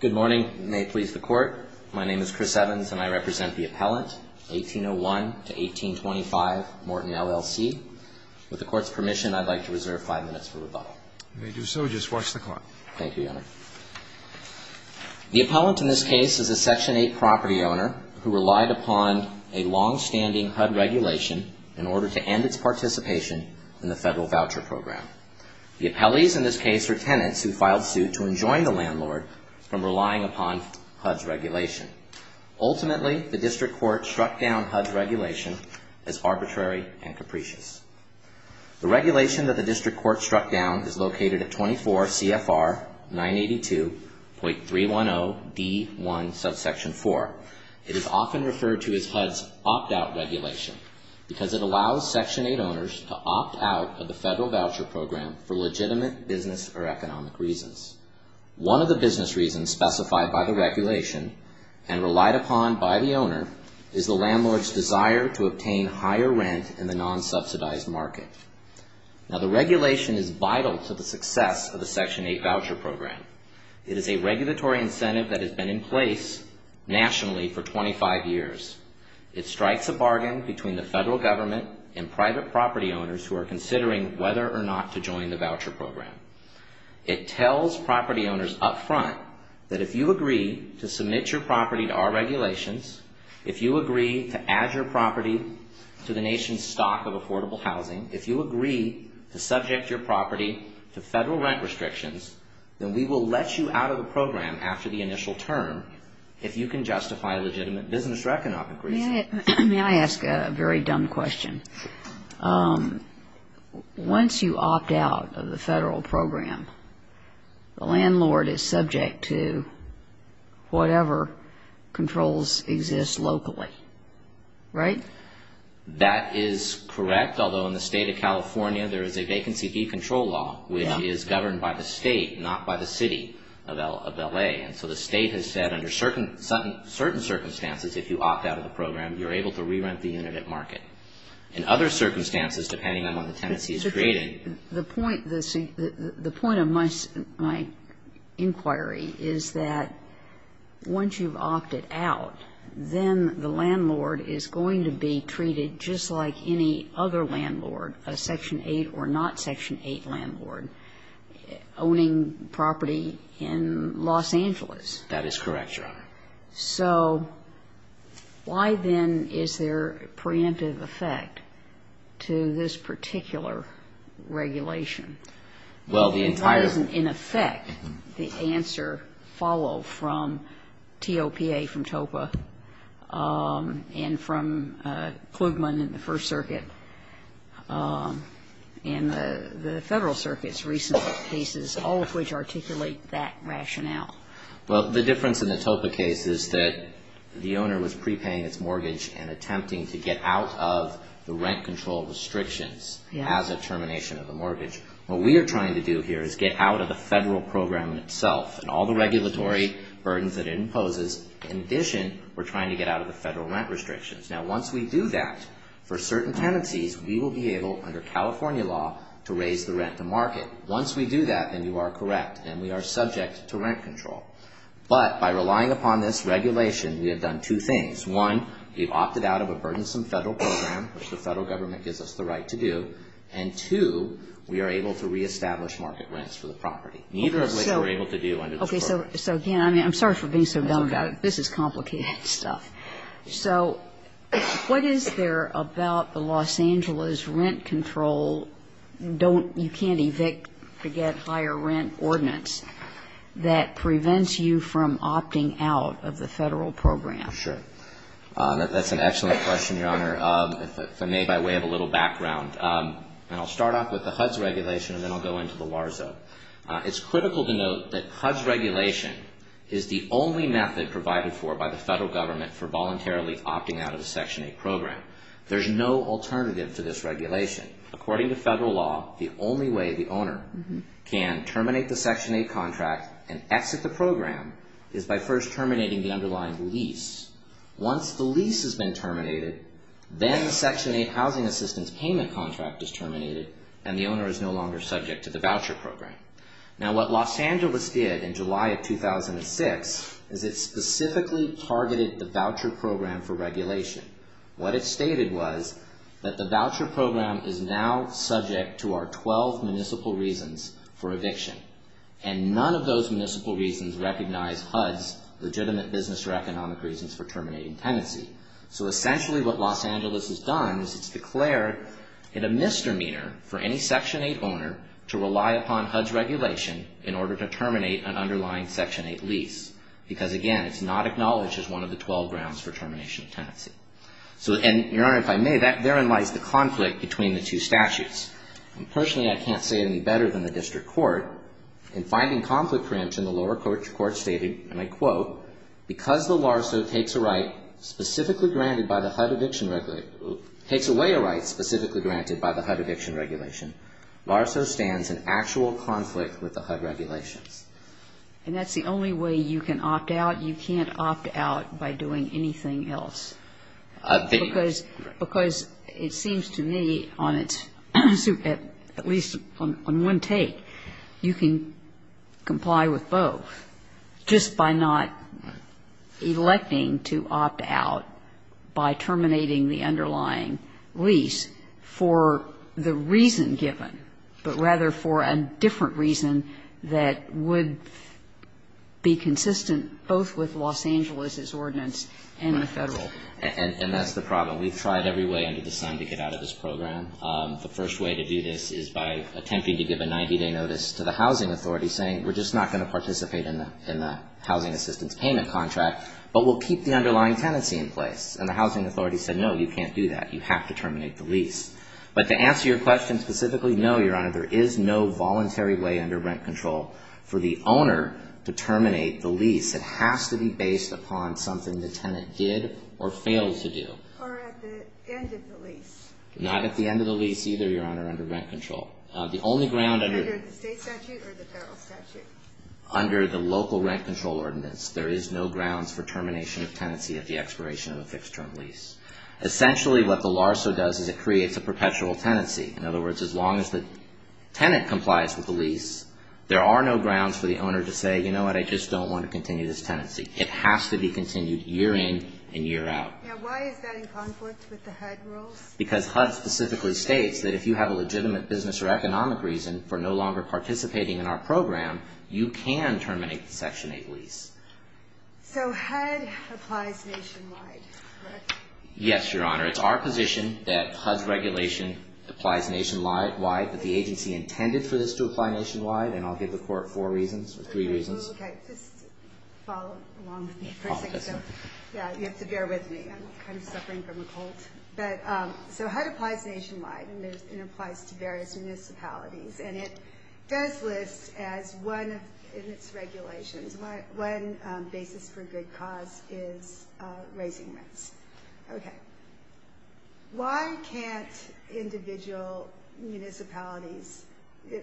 Good morning. May it please the Court. My name is Chris Evans and I represent the appellant, 1801-1825 Morton LLC. With the Court's permission, I'd like to reserve five minutes for rebuttal. You may do so. Just watch the clock. Thank you, Your Honor. The appellant in this case is a Section 8 property owner who relied upon a longstanding HUD regulation in order to end its participation in the federal voucher program. The appellees in this case are tenants who filed suit to enjoin the landlord from relying upon HUD's regulation. Ultimately, the District Court struck down HUD's regulation as arbitrary and capricious. The regulation that the District Court struck down is located at 24 CFR 982.310D1 subsection 4. It is often referred to as HUD's opt-out regulation because it allows Section 8 owners to opt out of the federal voucher program for legitimate business or economic reasons. One of the business reasons specified by the regulation and relied upon by the owner is the landlord's desire to obtain higher rent in the non-subsidized market. Now, the regulation is vital to the success of the Section 8 voucher program. It is a regulatory incentive that has been in place nationally for 25 years. It strikes a bargain between the federal government and private property owners who are considering whether or not to join the voucher program. It tells property owners up front that if you agree to submit your property to our regulations, if you agree to add your property to the nation's stock of affordable housing, if you agree to subject your property to federal rent restrictions, then we will let you out of the program after the initial term if you can justify legitimate business or economic reasons. May I ask a very dumb question? Once you opt out of the federal program, the landlord is subject to whatever controls exist locally, right? That is correct, although in the state of California, there is a vacancy decontrol law which is governed by the state, not by the city of L.A. And so the state has said under certain circumstances, if you opt out of the program, you're able to re-rent the unit at market. In other circumstances, depending on what the tenancy is created... just like any other landlord, a Section 8 or not Section 8 landlord, owning property in Los Angeles. That is correct, Your Honor. So why then is there preemptive effect to this particular regulation? Well, the entire... And why doesn't, in effect, the answer follow from T.O.P.A. from TOPA and from Klugman in the First Circuit and the Federal Circuit's recent cases, all of which articulate that rationale? Well, the difference in the T.O.P.A. case is that the owner was prepaying its mortgage and attempting to get out of the rent control restrictions as a termination of the mortgage. What we are trying to do here is get out of the federal program itself and all the regulatory burdens that it imposes. In addition, we're trying to get out of the federal rent restrictions. Now, once we do that, for certain tenancies, we will be able, under California law, to raise the rent to market. Once we do that, then you are correct, and we are subject to rent control. But by relying upon this regulation, we have done two things. One, we've opted out of a burdensome federal program, which the Federal Government gives us the right to do. And, two, we are able to reestablish market rents for the property, neither of which we're able to do under this program. Okay. So again, I mean, I'm sorry for being so dumb about it. That's okay. This is complicated stuff. So what is there about the Los Angeles rent control, you can't evict to get higher rent ordinance, that prevents you from opting out of the federal program? Sure. That's an excellent question, Your Honor. If I may, by way of a little background, and I'll start off with the HUDS regulation, and then I'll go into the LARSO. It's critical to note that HUDS regulation is the only method provided for by the Federal Government for voluntarily opting out of a Section 8 program. There's no alternative to this regulation. According to federal law, the only way the owner can terminate the Section 8 contract and exit the program is by first terminating the underlying lease. Once the lease has been terminated, then the Section 8 housing assistance payment contract is terminated, and the owner is no longer subject to the voucher program. Now, what Los Angeles did in July of 2006 is it specifically targeted the voucher program for regulation. What it stated was that the voucher program is now subject to our 12 municipal reasons for eviction, and none of those municipal reasons recognize HUDS legitimate business or economic reasons for terminating tenancy. So essentially what Los Angeles has done is it's declared a misdemeanor for any Section 8 owner to rely upon HUDS regulation in order to terminate an underlying Section 8 lease. Because, again, it's not acknowledged as one of the 12 grounds for termination of tenancy. And, Your Honor, if I may, therein lies the conflict between the two statutes. Personally, I can't say it any better than the district court. In finding conflict preemption, the lower court stated, and I quote, because the LARSO takes away a right specifically granted by the HUD eviction regulation, LARSO stands in actual conflict with the HUD regulations. And that's the only way you can opt out. You can't opt out by doing anything else. Because it seems to me on its own, at least on one take, you can comply with both just by not electing to opt out by terminating the underlying lease for the reason given, but rather for a different reason that would be consistent both with Los Angeles's ordinance and the Federal. And that's the problem. We've tried every way under the sun to get out of this program. The first way to do this is by attempting to give a 90-day notice to the housing authority saying we're just not going to participate in the housing assistance payment contract, but we'll keep the underlying tenancy in place. And the housing authority said, no, you can't do that. You have to terminate the lease. But to answer your question specifically, no, Your Honor, there is no voluntary way under rent control for the owner to terminate the lease. It has to be based upon something the tenant did or failed to do. Or at the end of the lease. Not at the end of the lease either, Your Honor, under rent control. Under the state statute or the federal statute? Under the local rent control ordinance. There is no grounds for termination of tenancy at the expiration of a fixed-term lease. Essentially what the LARSO does is it creates a perpetual tenancy. In other words, as long as the tenant complies with the lease, there are no grounds for the owner to say, you know what, I just don't want to continue this tenancy. It has to be continued year in and year out. Now why is that in conflict with the HUD rules? Because HUD specifically states that if you have a legitimate business or economic reason for no longer participating in our program, you can terminate the Section 8 lease. So HUD applies nationwide. Correct. Yes, Your Honor. It's our position that HUD's regulation applies nationwide. But the agency intended for this to apply nationwide. And I'll give the Court four reasons or three reasons. Okay. Just follow along with me for a second. Yeah, you have to bear with me. I'm kind of suffering from a cold. So HUD applies nationwide. And it applies to various municipalities. And it does list as one in its regulations, one basis for good cause is raising rents. Okay. Why can't individual municipalities,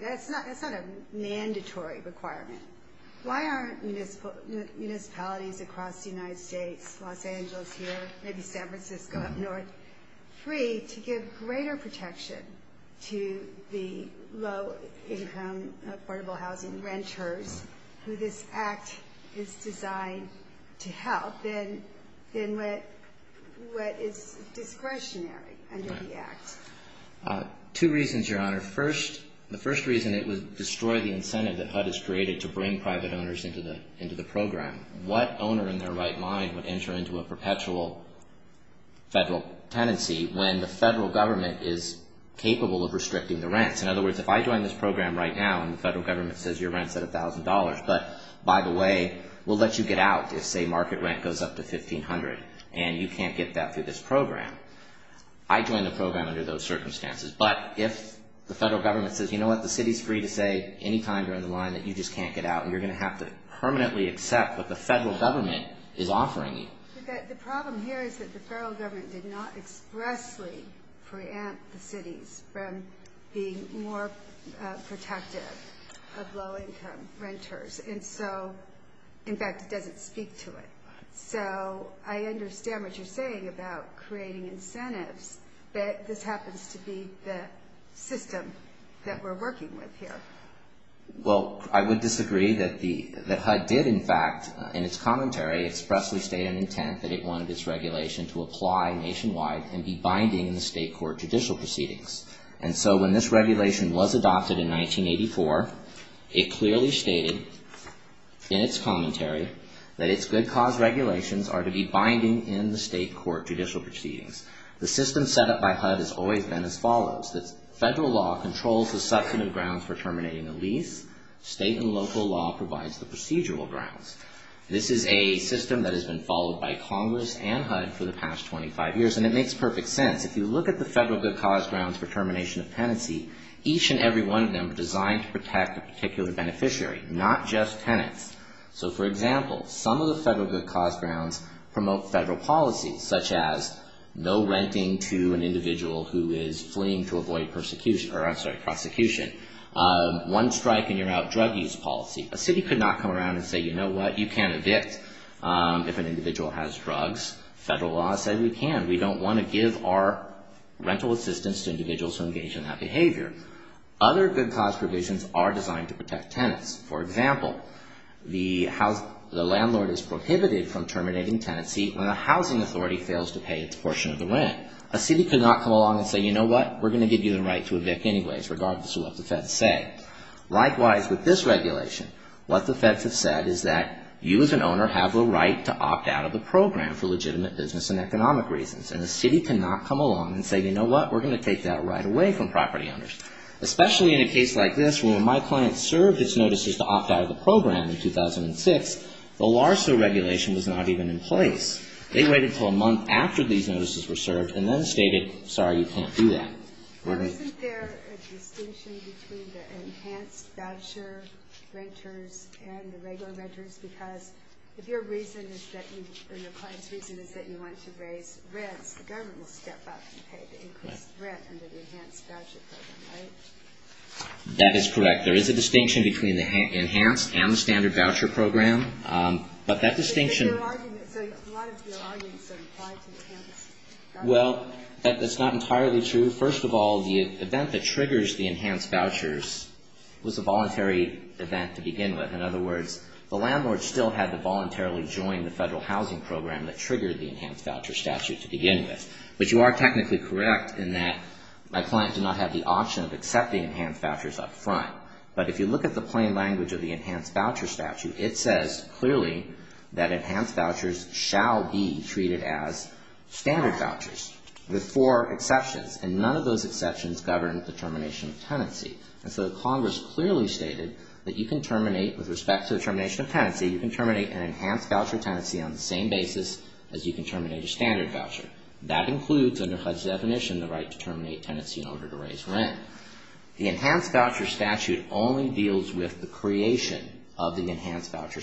that's not a mandatory requirement, why aren't municipalities across the United States, Los Angeles here, maybe San Francisco up north, free to give greater protection to the low-income affordable housing renters who this Act is designed to help than what is discretionary under the Act? Two reasons, Your Honor. First, the first reason, it would destroy the incentive that HUD has created to bring private owners into the program. What owner in their right mind would enter into a perpetual federal tenancy when the federal government is capable of restricting the rents? In other words, if I join this program right now and the federal government says your rent's at $1,000, but by the way, we'll let you get out if, say, market rent goes up to $1,500, and you can't get that through this program, I join the program under those circumstances. But if the federal government says, you know what, the city's free to say any time you're in the line that you just can't get out and you're going to have to permanently accept what the federal government is offering you. But the problem here is that the federal government did not expressly preempt the cities from being more protective of low-income renters. And so, in fact, it doesn't speak to it. So I understand what you're saying about creating incentives, but this happens to be the system that we're working with here. Well, I would disagree that HUD did, in fact, in its commentary expressly state an intent that it wanted its regulation to apply nationwide and be binding in the state court judicial proceedings. And so when this regulation was adopted in 1984, it clearly stated in its commentary that its good cause regulations are to be binding in the state court judicial proceedings. The system set up by HUD has always been as follows. Federal law controls the substantive grounds for terminating a lease. State and local law provides the procedural grounds. This is a system that has been followed by Congress and HUD for the past 25 years. And it makes perfect sense. If you look at the federal good cause grounds for termination of tenancy, each and every one of them are designed to protect a particular beneficiary, not just tenants. So, for example, some of the federal good cause grounds promote federal policies, such as no renting to an individual who is fleeing to avoid prosecution. One strike and you're out drug use policy. A city could not come around and say, you know what, you can't evict if an individual has drugs. Federal law said we can. We don't want to give our rental assistance to individuals who engage in that behavior. Other good cause provisions are designed to protect tenants. For example, the landlord is prohibited from terminating tenancy when a housing authority fails to pay its portion of the rent. A city could not come along and say, you know what, we're going to give you the right to evict anyways, regardless of what the feds say. Likewise, with this regulation, what the feds have said is that you as an owner have a right to opt out of the program for legitimate business and economic reasons. And the city cannot come along and say, you know what, we're going to take that right away from property owners. Especially in a case like this where when my client served his notices to opt out of the program in 2006, the LARSO regulation was not even in place. They waited until a month after these notices were served and then stated, sorry, you can't do that. Isn't there a distinction between the enhanced voucher renters and the regular renters? Because if your reason is that you, or your client's reason is that you want to raise rents, the government will step up and pay the increased rent under the enhanced voucher program, right? That is correct. There is a distinction between the enhanced and the standard voucher program. But that distinction — So a lot of your arguments are applied to the enhanced vouchers. Well, that's not entirely true. First of all, the event that triggers the enhanced vouchers was a voluntary event to begin with. In other words, the landlord still had to voluntarily join the federal housing program that triggered the enhanced voucher statute to begin with. But you are technically correct in that my client did not have the option of accepting enhanced vouchers up front. But if you look at the plain language of the enhanced voucher statute, it says clearly that enhanced vouchers shall be treated as standard vouchers with four exceptions. And none of those exceptions govern the termination of tenancy. And so Congress clearly stated that you can terminate, with respect to the termination of tenancy, you can terminate an enhanced voucher tenancy on the same basis as you can terminate a standard voucher. That includes, under HUD's definition, the right to terminate tenancy in order to raise rent. The enhanced voucher statute only deals with the creation of the enhanced voucher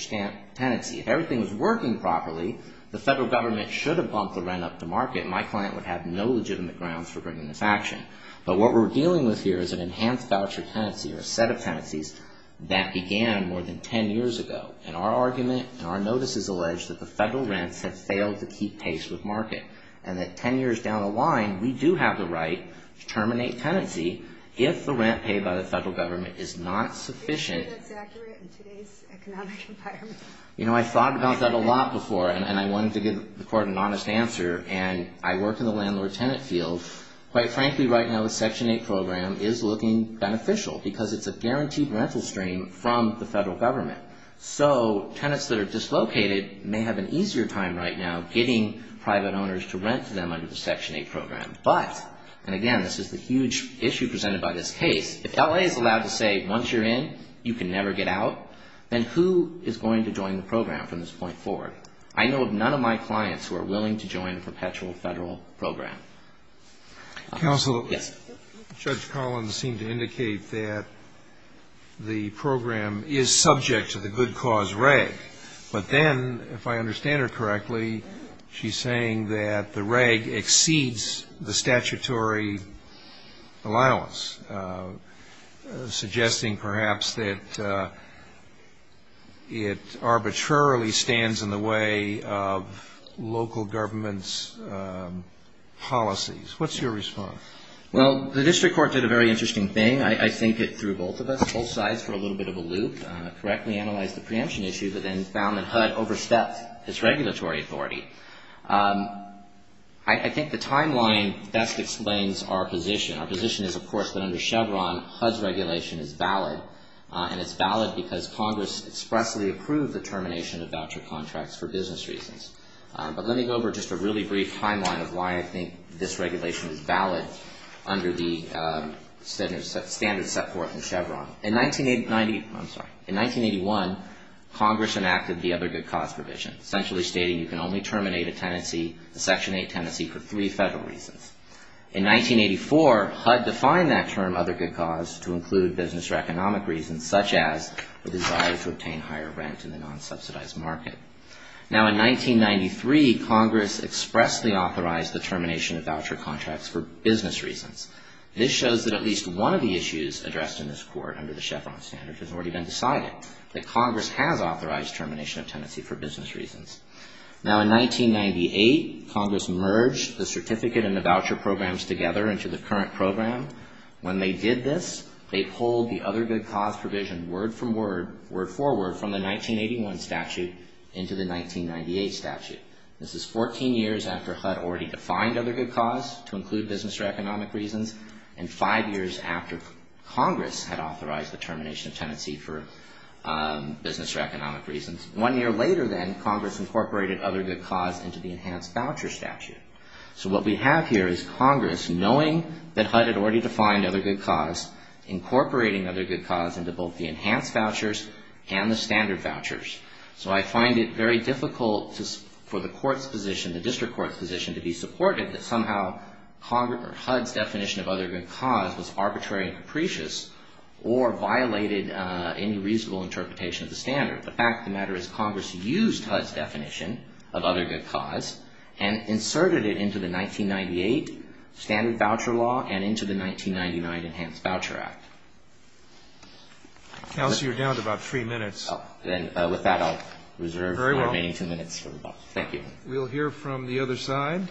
tenancy. If everything was working properly, the federal government should have bumped the rent up to market. My client would have no legitimate grounds for bringing this action. But what we're dealing with here is an enhanced voucher tenancy or a set of tenancies that began more than ten years ago. And our argument and our notice is alleged that the federal rents have failed to keep pace with market. And that ten years down the line, we do have the right to terminate tenancy if the rent paid by the federal government is not sufficient. Are you sure that's accurate in today's economic environment? You know, I thought about that a lot before, and I wanted to give the Court an honest answer. And I work in the landlord-tenant field. Quite frankly, right now, the Section 8 program is looking beneficial because it's a guaranteed rental stream from the federal government. So tenants that are dislocated may have an easier time right now getting private owners to rent to them under the Section 8 program. But, and again, this is the huge issue presented by this case, if L.A. is allowed to say once you're in, you can never get out, then who is going to join the program from this point forward? I know of none of my clients who are willing to join a perpetual federal program. Counsel. Yes. Judge Collins seemed to indicate that the program is subject to the good cause reg. But then, if I understand her correctly, she's saying that the reg exceeds the statutory allowance, suggesting perhaps that it arbitrarily stands in the way of local government's policies. What's your response? Well, the District Court did a very interesting thing. I think it threw both of us, both sides, for a little bit of a loop, correctly analyzed the preemption issue, but then found that HUD overstepped its regulatory authority. I think the timeline best explains our position. Our position is, of course, that under Chevron, HUD's regulation is valid. And it's valid because Congress expressly approved the termination of voucher contracts for business reasons. But let me go over just a really brief timeline of why I think this regulation is valid under the standards set forth in Chevron. In 1981, Congress enacted the other good cause provision, essentially stating you can only terminate a tenancy, a Section 8 tenancy, for three federal reasons. In 1984, HUD defined that term, other good cause, to include business or economic reasons, such as the desire to obtain higher rent in the non-subsidized market. Now, in 1993, Congress expressly authorized the termination of voucher contracts for business reasons. This shows that at least one of the issues addressed in this Court under the Chevron standards has already been decided, that Congress has authorized termination of tenancy for business reasons. Now, in 1998, Congress merged the certificate and the voucher programs together into the current program. When they did this, they pulled the other good cause provision word from word, word for word, from the 1981 statute into the 1998 statute. This is 14 years after HUD already defined other good cause to include business or economic reasons and five years after Congress had authorized the termination of tenancy for business or economic reasons. One year later then, Congress incorporated other good cause into the enhanced voucher statute. So what we have here is Congress, knowing that HUD had already defined other good cause, incorporating other good cause into both the enhanced vouchers and the standard vouchers. So I find it very difficult for the court's position, the district court's position, to be supportive that somehow HUD's definition of other good cause was arbitrary and capricious or violated any reasonable interpretation of the standard. The fact of the matter is Congress used HUD's definition of other good cause and inserted it into the 1998 standard voucher law and into the 1999 Enhanced Voucher Act. Counsel, you're down to about three minutes. And with that, I'll reserve the remaining two minutes. Very well. Thank you. We'll hear from the other side.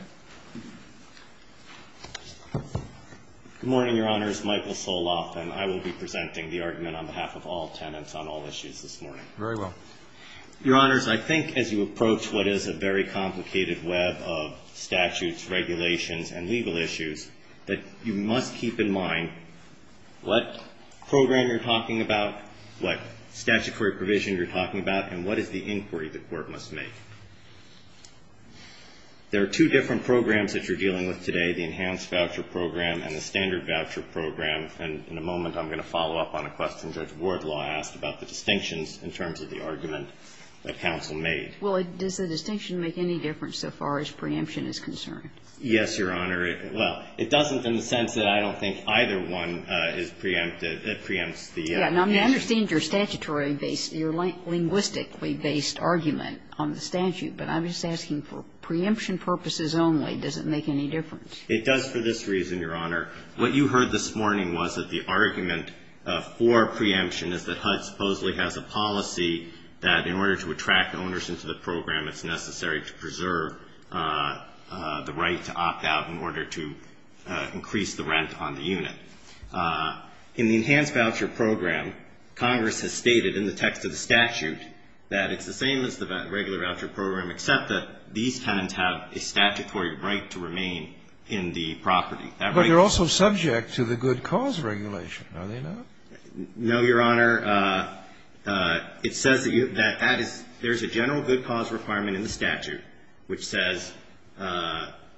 Good morning, Your Honors. Michael Soloff, and I will be presenting the argument on behalf of all tenants on all issues this morning. Very well. Your Honors, I think as you approach what is a very complicated web of statutes, regulations, and legal issues, that you must keep in mind what program you're talking about, what statutory provision you're talking about, and what is the inquiry the court must make. There are two different programs that you're dealing with today, the Enhanced Voucher Program and the Standard Voucher Program. And in a moment I'm going to follow up on a question Judge Wardlaw asked about the distinctions in terms of the argument that counsel made. Well, does the distinction make any difference so far as preemption is concerned? Yes, Your Honor. Well, it doesn't in the sense that I don't think either one is preempted. It preempts the statute. Yeah. And I understand your statutory base, your linguistically based argument on the statute. But I'm just asking for preemption purposes only, does it make any difference? It does for this reason, Your Honor. What you heard this morning was that the argument for preemption is that HUD supposedly has a policy that in order to attract owners into the program, it's necessary to preserve the right to opt out in order to increase the rent on the unit. In the Enhanced Voucher Program, Congress has stated in the text of the statute that it's the same as the regular voucher program, except that these tenants have a statutory right to remain in the property. But you're also subject to the good cause regulation. Are they not? No, Your Honor. It says that there's a general good cause requirement in the statute which says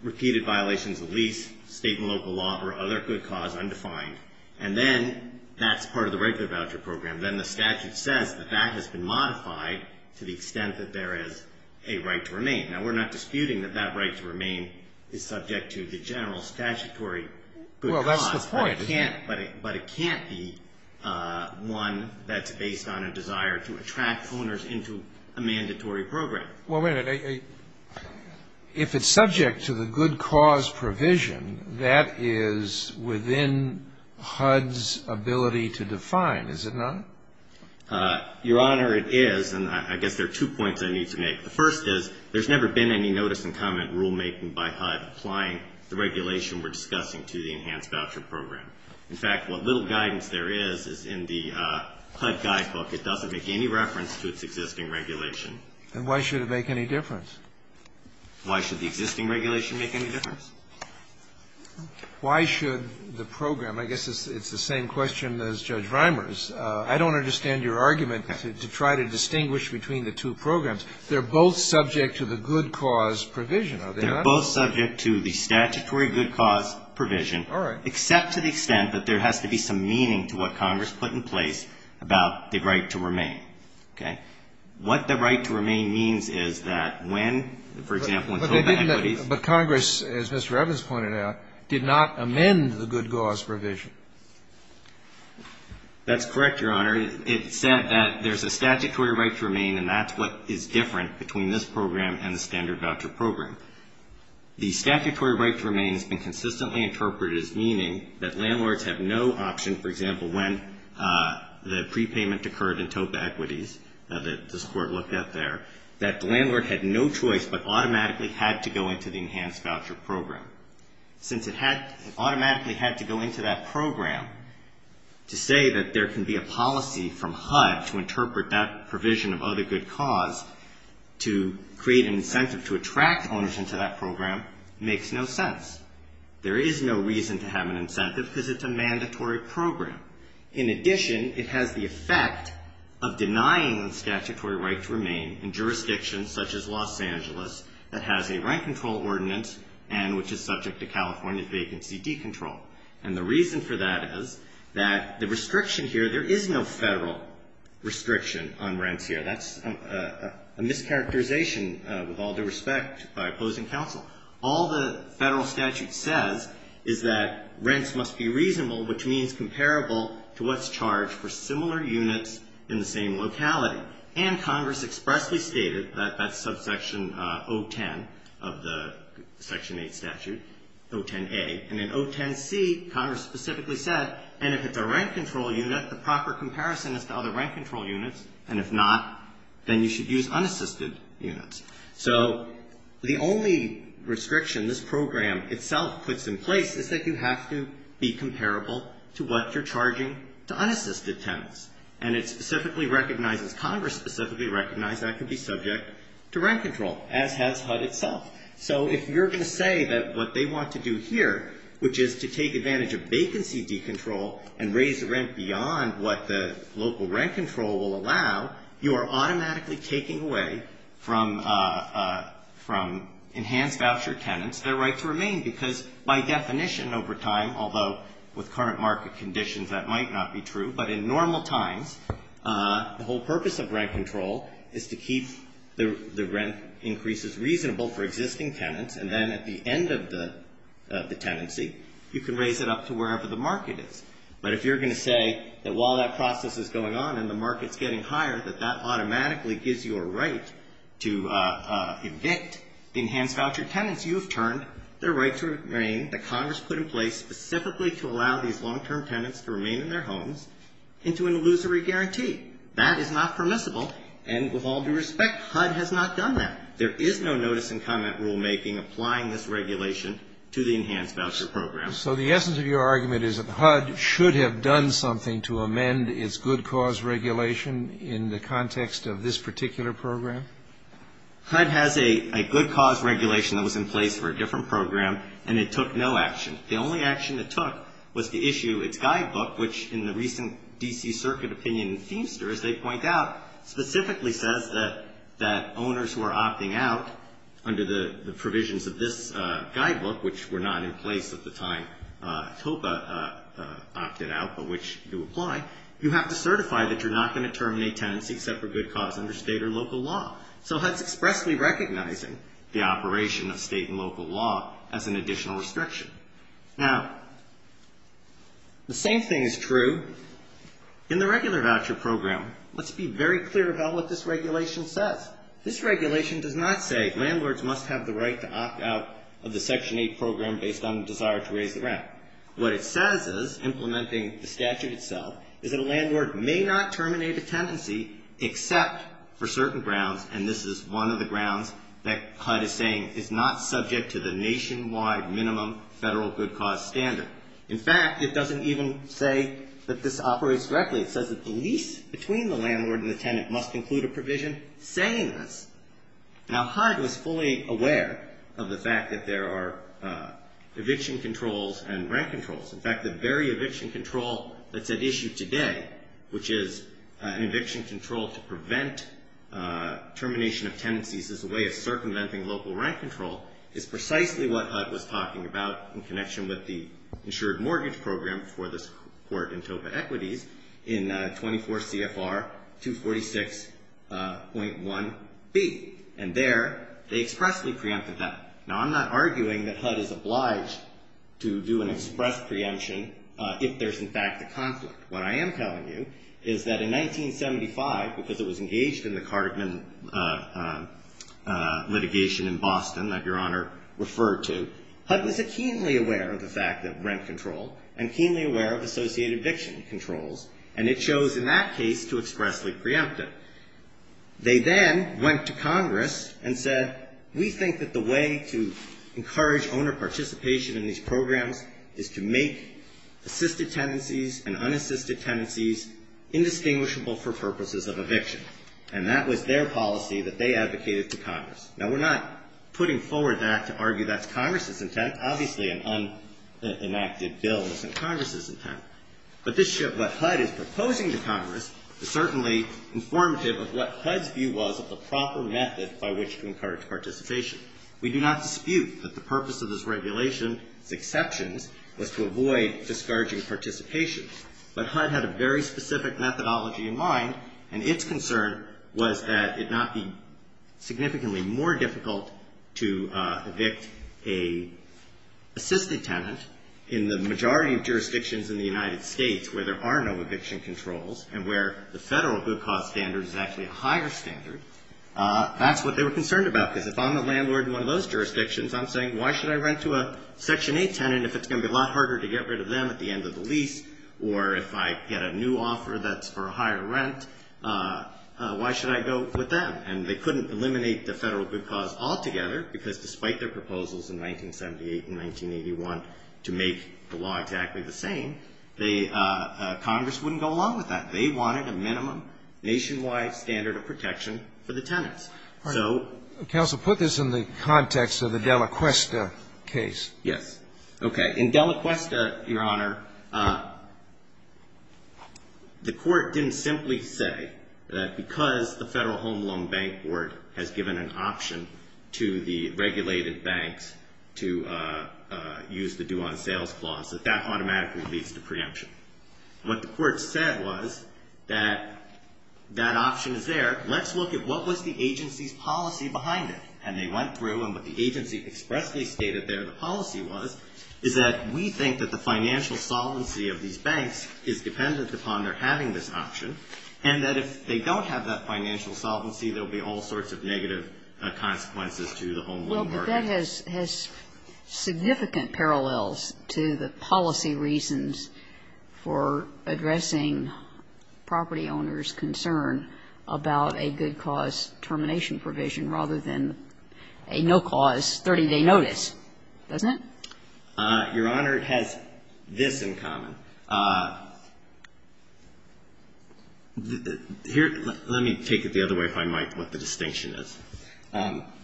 repeated violations of lease, state and local law, or other good cause undefined. And then that's part of the regular voucher program. Then the statute says that that has been modified to the extent that there is a right to remain. Now, we're not disputing that that right to remain is subject to the general statutory good cause. Well, that's the point. But it can't be one that's based on a desire to attract owners into a mandatory program. Well, wait a minute. If it's subject to the good cause provision, that is within HUD's ability to define, is it not? Your Honor, it is. And I guess there are two points I need to make. The first is there's never been any notice and comment rulemaking by HUD applying the regulation we're discussing to the enhanced voucher program. In fact, what little guidance there is, is in the HUD guidebook, it doesn't make any reference to its existing regulation. And why should it make any difference? Why should the existing regulation make any difference? Why should the program? I guess it's the same question as Judge Reimers. I don't understand your argument to try to distinguish between the two programs. They're both subject to the good cause provision, are they not? They're both subject to the statutory good cause provision. All right. Except to the extent that there has to be some meaning to what Congress put in place about the right to remain. Okay? What the right to remain means is that when, for example, when HUD employees But Congress, as Mr. Evans pointed out, did not amend the good cause provision. That's correct, Your Honor. It said that there's a statutory right to remain, and that's what is different between this program and the standard voucher program. The statutory right to remain has been consistently interpreted as meaning that landlords have no option, for example, when the prepayment occurred in TOPA equities, that this Court looked at there, that the landlord had no choice but automatically had to go into the enhanced voucher program. Since it automatically had to go into that program, to say that there can be a policy from HUD to interpret that provision of other good cause to create an incentive to attract ownership to that program makes no sense. There is no reason to have an incentive because it's a mandatory program. In addition, it has the effect of denying the statutory right to remain in jurisdictions such as Los Angeles that has a rent control ordinance and which is subject to California vacancy decontrol. And the reason for that is that the restriction here, there is no federal restriction on rents here. That's a mischaracterization, with all due respect, by opposing counsel. All the federal statute says is that rents must be reasonable, which means comparable to what's charged for similar units in the same locality. And Congress expressly stated that that's subsection 010 of the Section 8 statute, 010A. And in 010C, Congress specifically said, and if it's a rent control unit, the proper comparison is to other rent control units, and if not, then you should use unassisted units. So the only restriction this program itself puts in place is that you have to be comparable to what you're charging to unassisted tenants. And it specifically recognizes, Congress specifically recognized that it could be subject to rent control, as has HUD itself. So if you're going to say that what they want to do here, which is to take advantage of vacancy decontrol and raise the rent beyond what the local rent control will allow, you are automatically taking away from enhanced voucher tenants their right to remain because by definition over time, although with current market conditions that might not be true, but in normal times, the whole purpose of rent control is to keep the rent increases reasonable for existing tenants. And then at the end of the tenancy, you can raise it up to wherever the market is. But if you're going to say that while that process is going on and the market's getting higher, that that automatically gives you a right to evict the enhanced voucher tenants you have turned their right to remain that Congress put in place specifically to allow these long-term tenants to remain in their homes into an illusory guarantee. That is not permissible. And with all due respect, HUD has not done that. There is no notice and comment rulemaking applying this regulation to the enhanced voucher program. So the essence of your argument is that HUD should have done something to amend its good cause regulation in the context of this particular program? HUD has a good cause regulation that was in place for a different program, and it took no action. The only action it took was to issue its guidebook, which in the recent D.C. Circuit opinion in Feimster, as they point out, specifically says that owners who are opting out under the provisions of this guidebook, which were not in place at the time TOPA opted out, but which do apply, you have to certify that you're not going to terminate tenancy except for good cause under state or local law. So HUD's expressly recognizing the operation of state and local law as an additional restriction. Now, the same thing is true in the regular voucher program. Let's be very clear about what this regulation says. This regulation does not say landlords must have the right to opt out of the Section 8 program based on the desire to raise the rent. What it says is, implementing the statute itself, is that a landlord may not terminate a tenancy except for certain grounds, and this is one of the grounds that HUD is saying is not subject to the nationwide minimum federal good cause standard. In fact, it doesn't even say that this operates directly. It says that the lease between the landlord and the tenant must include a provision saying this. Now, HUD was fully aware of the fact that there are eviction controls and rent controls. In fact, the very eviction control that's at issue today, which is an eviction control to prevent termination of tenancies as a way of circumventing local rent control, is precisely what HUD was talking about in connection with the insured mortgage program for this court in Topa Equities in 24 CFR 246.1B. And there, they expressly preempted that. Now, I'm not arguing that HUD is obliged to do an express preemption if there's in fact a conflict. What I am telling you is that in 1975, because it was engaged in the Cartman litigation in Boston that Your Honor referred to, HUD was keenly aware of the fact of rent control and keenly aware of associated eviction controls, and it chose in that case to expressly preempt it. They then went to Congress and said, we think that the way to encourage owner participation in these programs is to make assisted tenancies and unassisted tenancies indistinguishable for purposes of eviction. And that was their policy that they advocated to Congress. Now, we're not putting forward that to argue that's Congress's intent. Obviously, an unenacted bill isn't Congress's intent. But this what HUD is proposing to Congress is certainly informative of what HUD's view was of the proper method by which to encourage participation. We do not dispute that the purpose of this regulation's exceptions was to avoid discouraging participation. But HUD had a very specific methodology in mind, and its concern was that it not be significantly more difficult to evict a assisted tenant in the majority of jurisdictions in the United States where there are no eviction controls and where the Federal good cause standard is actually a higher standard. That's what they were concerned about. Because if I'm a landlord in one of those jurisdictions, I'm saying, why should I rent to a Section 8 tenant if it's going to be a lot harder to get rid of them at the end of the lease? Or if I get a new offer that's for a higher rent, why should I go with them? And they couldn't eliminate the Federal good cause altogether, because despite their proposals in 1978 and 1981 to make the law exactly the same, Congress wouldn't go along with that. They wanted a minimum nationwide standard of protection for the tenants. So Counsel, put this in the context of the Delaquesta case. Yes. Okay. In Delaquesta, Your Honor, the Court didn't simply say that because the Federal Home Loan Bank Board has given an option to the regulated banks to use the due-on-sales clause, that that automatically leads to preemption. What the Court said was that that option is there. Let's look at what was the agency's policy behind it. And they went through. And what the agency expressly stated there, the policy was, is that we think that the financial solvency of these banks is dependent upon their having this option, and that if they don't have that financial solvency, there will be all sorts of negative consequences to the home loan market. But that has significant parallels to the policy reasons for addressing property owners' concern about a good cause termination provision rather than a no cause 30-day notice, doesn't it? Your Honor, it has this in common. Here, let me take it the other way, if I might, what the distinction is.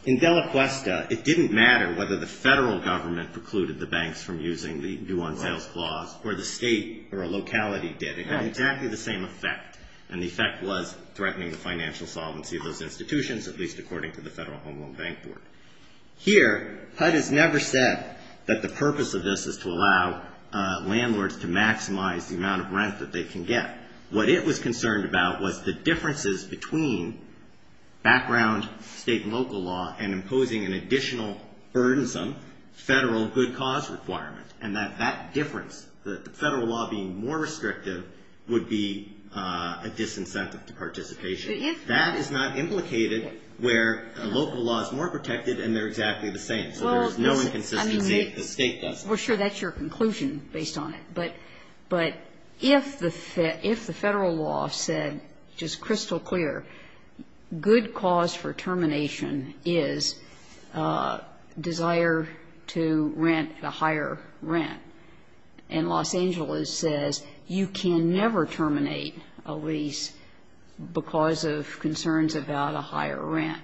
In Dela Cuesta, it didn't matter whether the Federal Government precluded the banks from using the due-on-sales clause or the state or a locality did. It had exactly the same effect. And the effect was threatening the financial solvency of those institutions, at least according to the Federal Home Loan Bank Board. Here, HUD has never said that the purpose of this is to allow landlords to maximize the amount of rent that they can get. What it was concerned about was the differences between background State and local law and imposing an additional burdensome Federal good cause requirement, and that that difference, the Federal law being more restrictive, would be a disincentive to participation. That is not implicated where local law is more protected and they're exactly the same. So there's no inconsistency if the State does that. Well, sure, that's your conclusion based on it. But if the Federal law said, just crystal clear, good cause for termination is desire to rent at a higher rent, and Los Angeles says you can never terminate a lease because of concerns about a higher rent,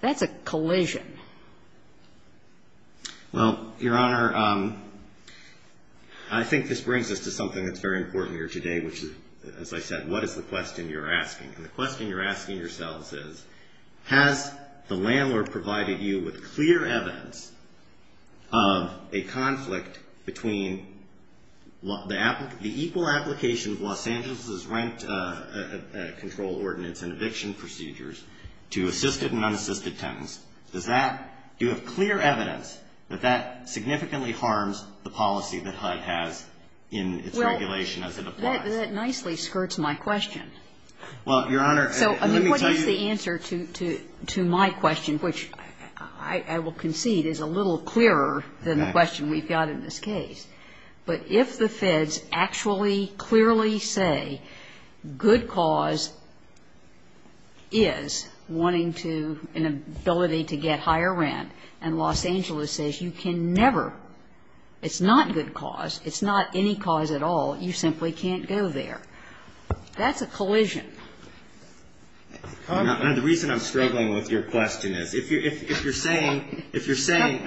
that's a collision. Well, Your Honor, I think this brings us to something that's very important here today, which is, as I said, what is the question you're asking? And the question you're asking yourselves is, has the landlord provided you with clear evidence of a conflict between the equal application of Los Angeles' rent control ordinance and eviction procedures to assisted and unassisted tenants? Does that, do you have clear evidence that that significantly harms the policy that HUD has in its regulation as it applies? Well, that nicely skirts my question. Well, Your Honor, let me tell you. So, I mean, what is the answer to my question, which I will concede is a little clearer than the question we've got in this case? But if the Feds actually clearly say good cause is wanting to, an ability to get higher rent, and Los Angeles says you can never, it's not good cause, it's not any cause at all, you simply can't go there, that's a collision. And the reason I'm struggling with your question is, if you're saying, if you're saying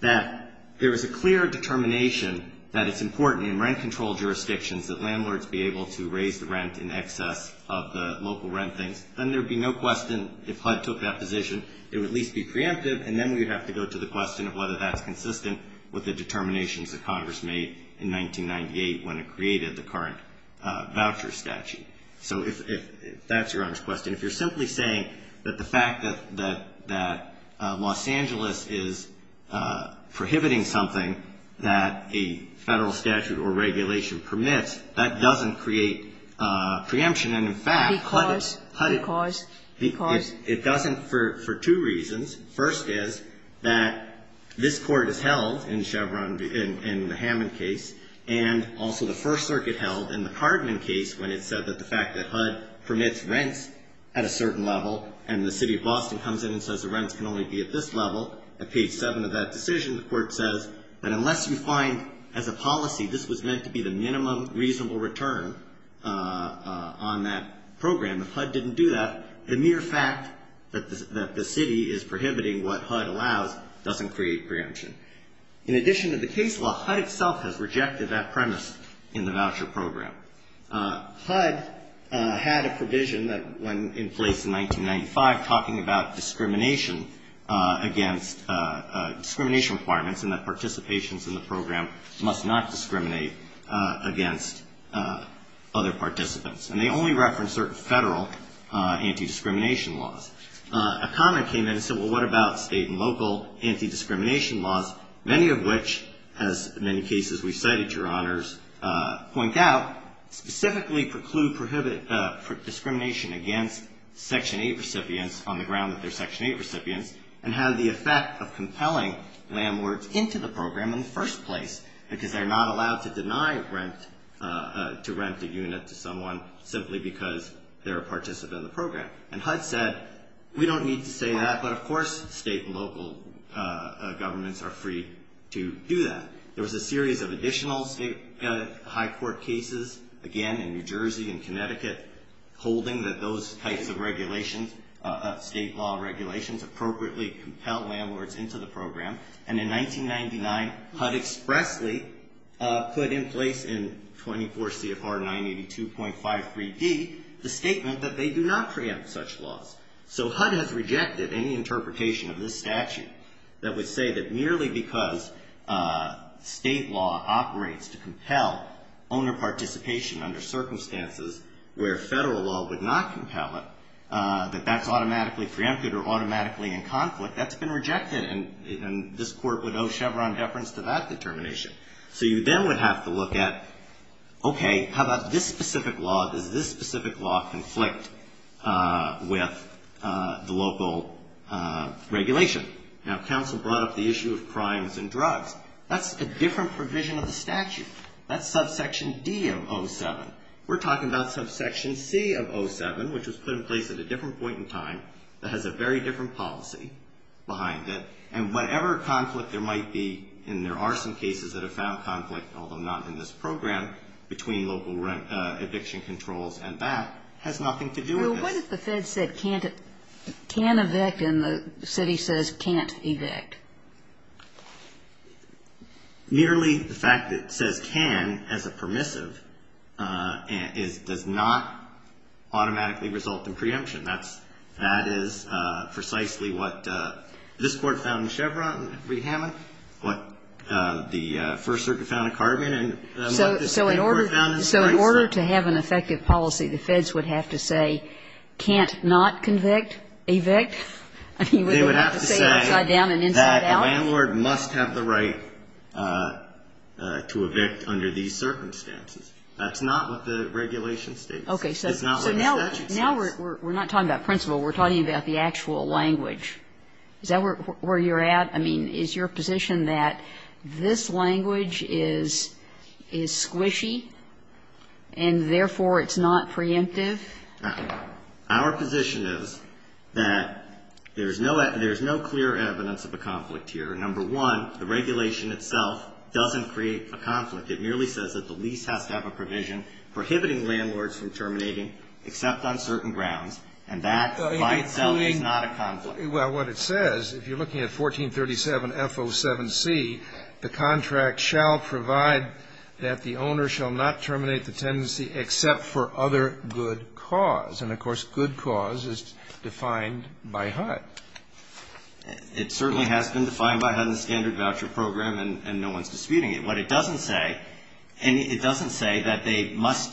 that there is a clear determination that it's important in rent control jurisdictions that landlords be able to raise the rent in excess of the local rent things, then there would be no question, if HUD took that position, it would at least be preemptive, and then we would have to go to the question of whether that's consistent with the determinations that Congress made in 1998 when it created the current voucher statute. So if that's Your Honor's question, if you're simply saying that the fact that Los Angeles is prohibiting something that a Federal statute or regulation permits, that doesn't create preemption. And in fact, HUD. Because, because, because. It doesn't for two reasons. First is that this Court has held in Chevron, in the Hammond case, and also the First Circuit held in the Cardman case when it said that the fact that HUD permits rents at a certain level and the City of Boston comes in and says the rents can only be at this level, at page seven of that decision, the Court says that unless you find as a policy this was meant to be the minimum reasonable return on that program, if HUD didn't do that, the mere fact that the City is prohibiting what HUD allows doesn't create preemption. In addition to the case law, HUD itself has rejected that premise in the voucher program. HUD had a provision that went in place in 1995 talking about discrimination against, discrimination requirements and that participations in the program must not discriminate against other participants. And they only referenced certain Federal anti-discrimination laws. A comment came in and said, well, what about State and local anti-discrimination laws, many of which, as in many cases we've cited, Your Honors, point out, specifically preclude, prohibit discrimination against Section 8 recipients on the ground that they're Section 8 recipients and have the effect of compelling landlords into the program in the first place because they're not allowed to deny rent, to rent a unit to someone simply because they're a participant in the program. And HUD said, we don't need to say that, but of course, State and local governments are free to do that. There was a series of additional State High Court cases, again, in New Jersey and Connecticut, holding that those types of regulations, State law regulations appropriately compel landlords into the program. And in 1999, HUD expressly put in place in 24 CFR 982.5 3D the statement that they do not preempt such laws. So HUD has rejected any interpretation of this statute that would say that merely because State law operates to compel owner participation under circumstances where Federal law would not compel it, that that's automatically preempted or automatically in conflict, that's been rejected. And this Court would owe Chevron deference to that determination. So you then would have to look at, okay, how about this specific law? Does this specific law conflict with the local regulation? Now, counsel brought up the issue of crimes and drugs. That's a different provision of the statute. That's subsection D of 07. We're talking about subsection C of 07, which was put in place at a different point in time that has a very different policy behind it. And whatever conflict there might be, and there are some cases that have found conflict, although not in this program, between local eviction controls and that has nothing to do with this. Well, what if the Fed said can't evict and the city says can't evict? Nearly the fact that it says can as a permissive does not automatically result in preemption. That is precisely what this Court found in Chevron and Reed-Hammond, what the First Circuit found in Carbon and what this Court found in Spice. So in order to have an effective policy, the Feds would have to say can't not convict, evict? I mean, would they have to say upside down and inside out? They would have to say that a landlord must have the right to evict under these circumstances. That's not what the regulation states. It's not what the statute states. Okay. So now we're not talking about principle. We're talking about the actual language. Is that where you're at? I mean, is your position that this language is squishy and therefore it's not preemptive? Our position is that there's no clear evidence of a conflict here. Number one, the regulation itself doesn't create a conflict. It merely says that the lease has to have a provision prohibiting landlords from terminating except on certain grounds. And that by itself is not a conflict. Well, what it says, if you're looking at 1437F07C, the contract shall provide that the owner shall not terminate the tenancy except for other good cause. And, of course, good cause is defined by HUD. It certainly has been defined by HUD in the Standard Voucher Program, and no one's disputing it. What it doesn't say, and it doesn't say that they must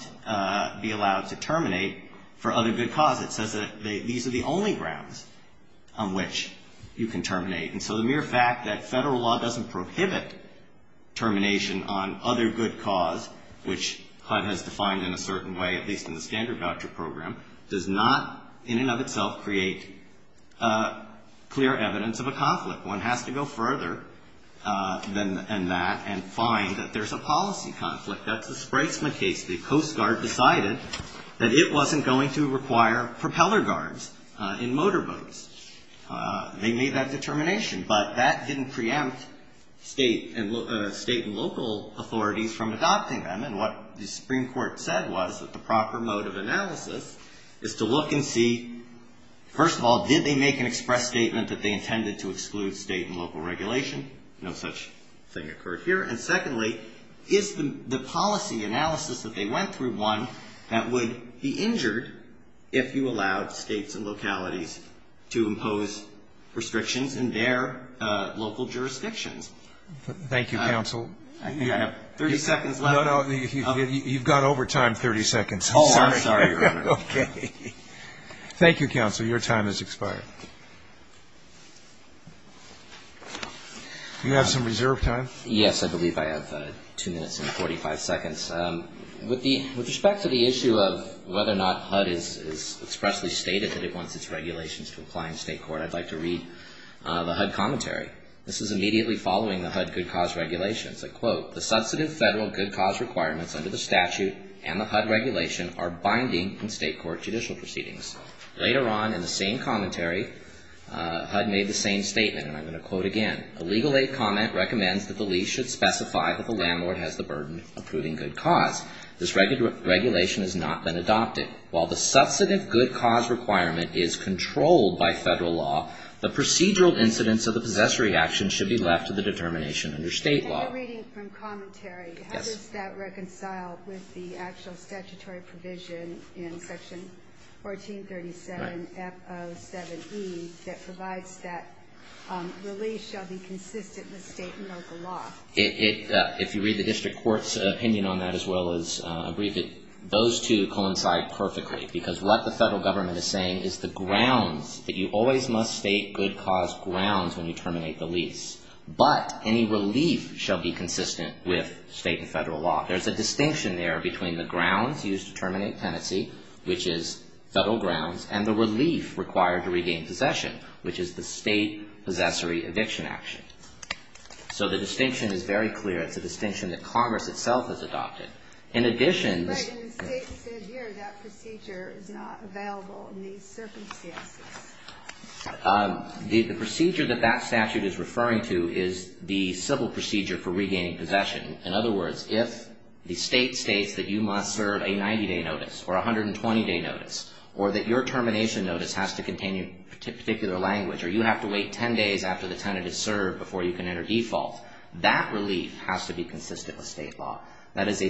be allowed to terminate for other good cause. It says that these are the only grounds on which you can terminate. And so the mere fact that Federal law doesn't prohibit termination on other good cause, which HUD has defined in a certain way, at least in the Standard Voucher Program, does not in and of itself create clear evidence of a conflict. One has to go further than that and find that there's a policy conflict. That's the Spreizman case. The Coast Guard decided that it wasn't going to require propeller guards in motorboats. They made that determination, but that didn't preempt state and local authorities from adopting them. And what the Supreme Court said was that the proper mode of analysis is to look and see, first of all, did they make an express statement that they intended to exclude state and local regulation? No such thing occurred here. And secondly, is the policy analysis that they went through one that would be injured if you allowed states and localities to impose restrictions in their local jurisdictions? Thank you, Counsel. I think I have 30 seconds left. No, no. You've gone over time 30 seconds. Oh, I'm sorry, Your Honor. Okay. Thank you, Counsel. Your time has expired. Do you have some reserve time? Yes, I believe I have two minutes and 45 seconds. With respect to the issue of whether or not HUD has expressly stated that it wants its regulations to apply in state court, I'd like to read the HUD commentary. This is immediately following the HUD good cause regulations. I quote, the substantive federal good cause requirements under the statute and the HUD regulation are binding in state court judicial proceedings. Later on in the same commentary, HUD made the same statement, and I'm going to quote it again. A legal aid comment recommends that the lease should specify that the landlord has the burden of proving good cause. This regulation has not been adopted. While the substantive good cause requirement is controlled by federal law, the procedural incidents of the possessory action should be left to the determination under state law. In the reading from commentary, how does that reconcile with the actual statutory provision in section 1437F07E that provides that the lease shall be consistent with state and local law? If you read the district court's opinion on that as well as a brief, those two coincide perfectly, because what the federal government is saying is the grounds that you always must state good cause grounds when you terminate the lease, but any relief shall be consistent with state and federal law. There's a distinction there between the grounds used to terminate tenancy, which is federal grounds, and the relief required to regain possession, which is the state possessory eviction action. So the distinction is very clear. It's a distinction that Congress itself has adopted. In addition to But the state said here that procedure is not available in these circumstances. The procedure that that statute is referring to is the civil procedure for regaining possession. In other words, if the state states that you must serve a 90-day notice or a 120-day notice or that your termination notice has to contain a particular language or you have to wait 10 days after the tenant is served before you can enter default, that relief has to be consistent with state law. That is a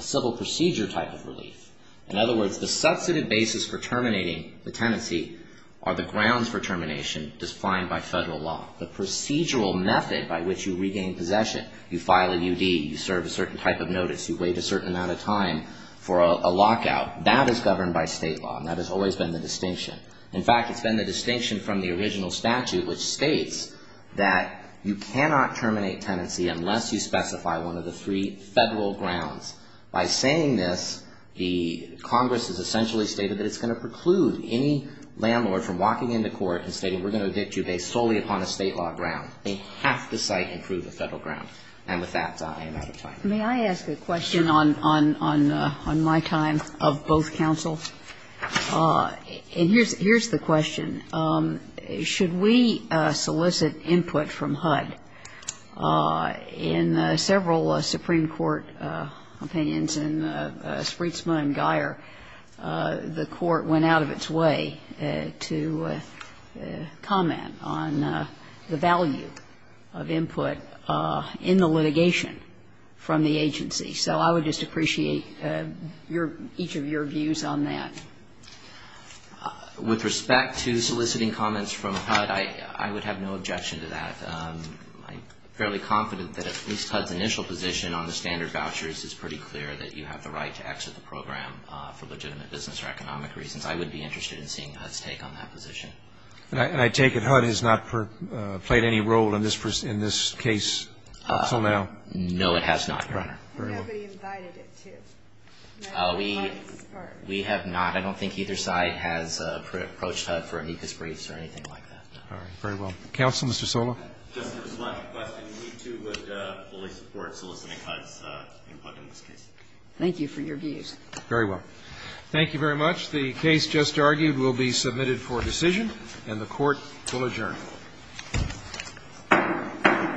civil procedure type of relief. In other words, the substantive basis for terminating the tenancy are the grounds for termination defined by federal law. The procedural method by which you regain possession, you file a UD, you serve a certain type of notice, you wait a certain amount of time for a lockout, that is governed by state law. And that has always been the distinction. In fact, it's been the distinction from the original statute, which states that you cannot terminate tenancy unless you specify one of the three federal grounds. By saying this, the Congress has essentially stated that it's going to preclude any landlord from walking into court and stating we're going to evict you based solely upon a state law ground. They have to cite and prove a federal ground. And with that, I am out of time. May I ask a question on my time of both counsel? And here's the question. Should we solicit input from HUD? In several Supreme Court opinions in Spreetsma and Guyer, the Court went out of its way to comment on the value of input in the litigation from the agency. So I would just appreciate each of your views on that. With respect to soliciting comments from HUD, I would have no objection to that. I'm fairly confident that at least HUD's initial position on the standard vouchers is pretty clear, that you have the right to exit the program for legitimate business or economic reasons. I would be interested in seeing HUD's take on that position. And I take it HUD has not played any role in this case up until now? No, it has not, Your Honor. Very well. Nobody invited it to. We have not. I don't think either side has approached HUD for amicus briefs or anything like that. All right. Very well. Counsel, Mr. Sola? Just to respond to the question, we, too, would fully support soliciting HUD's input in this case. Thank you for your views. Very well. Thank you very much. The case just argued will be submitted for decision, and the Court will adjourn.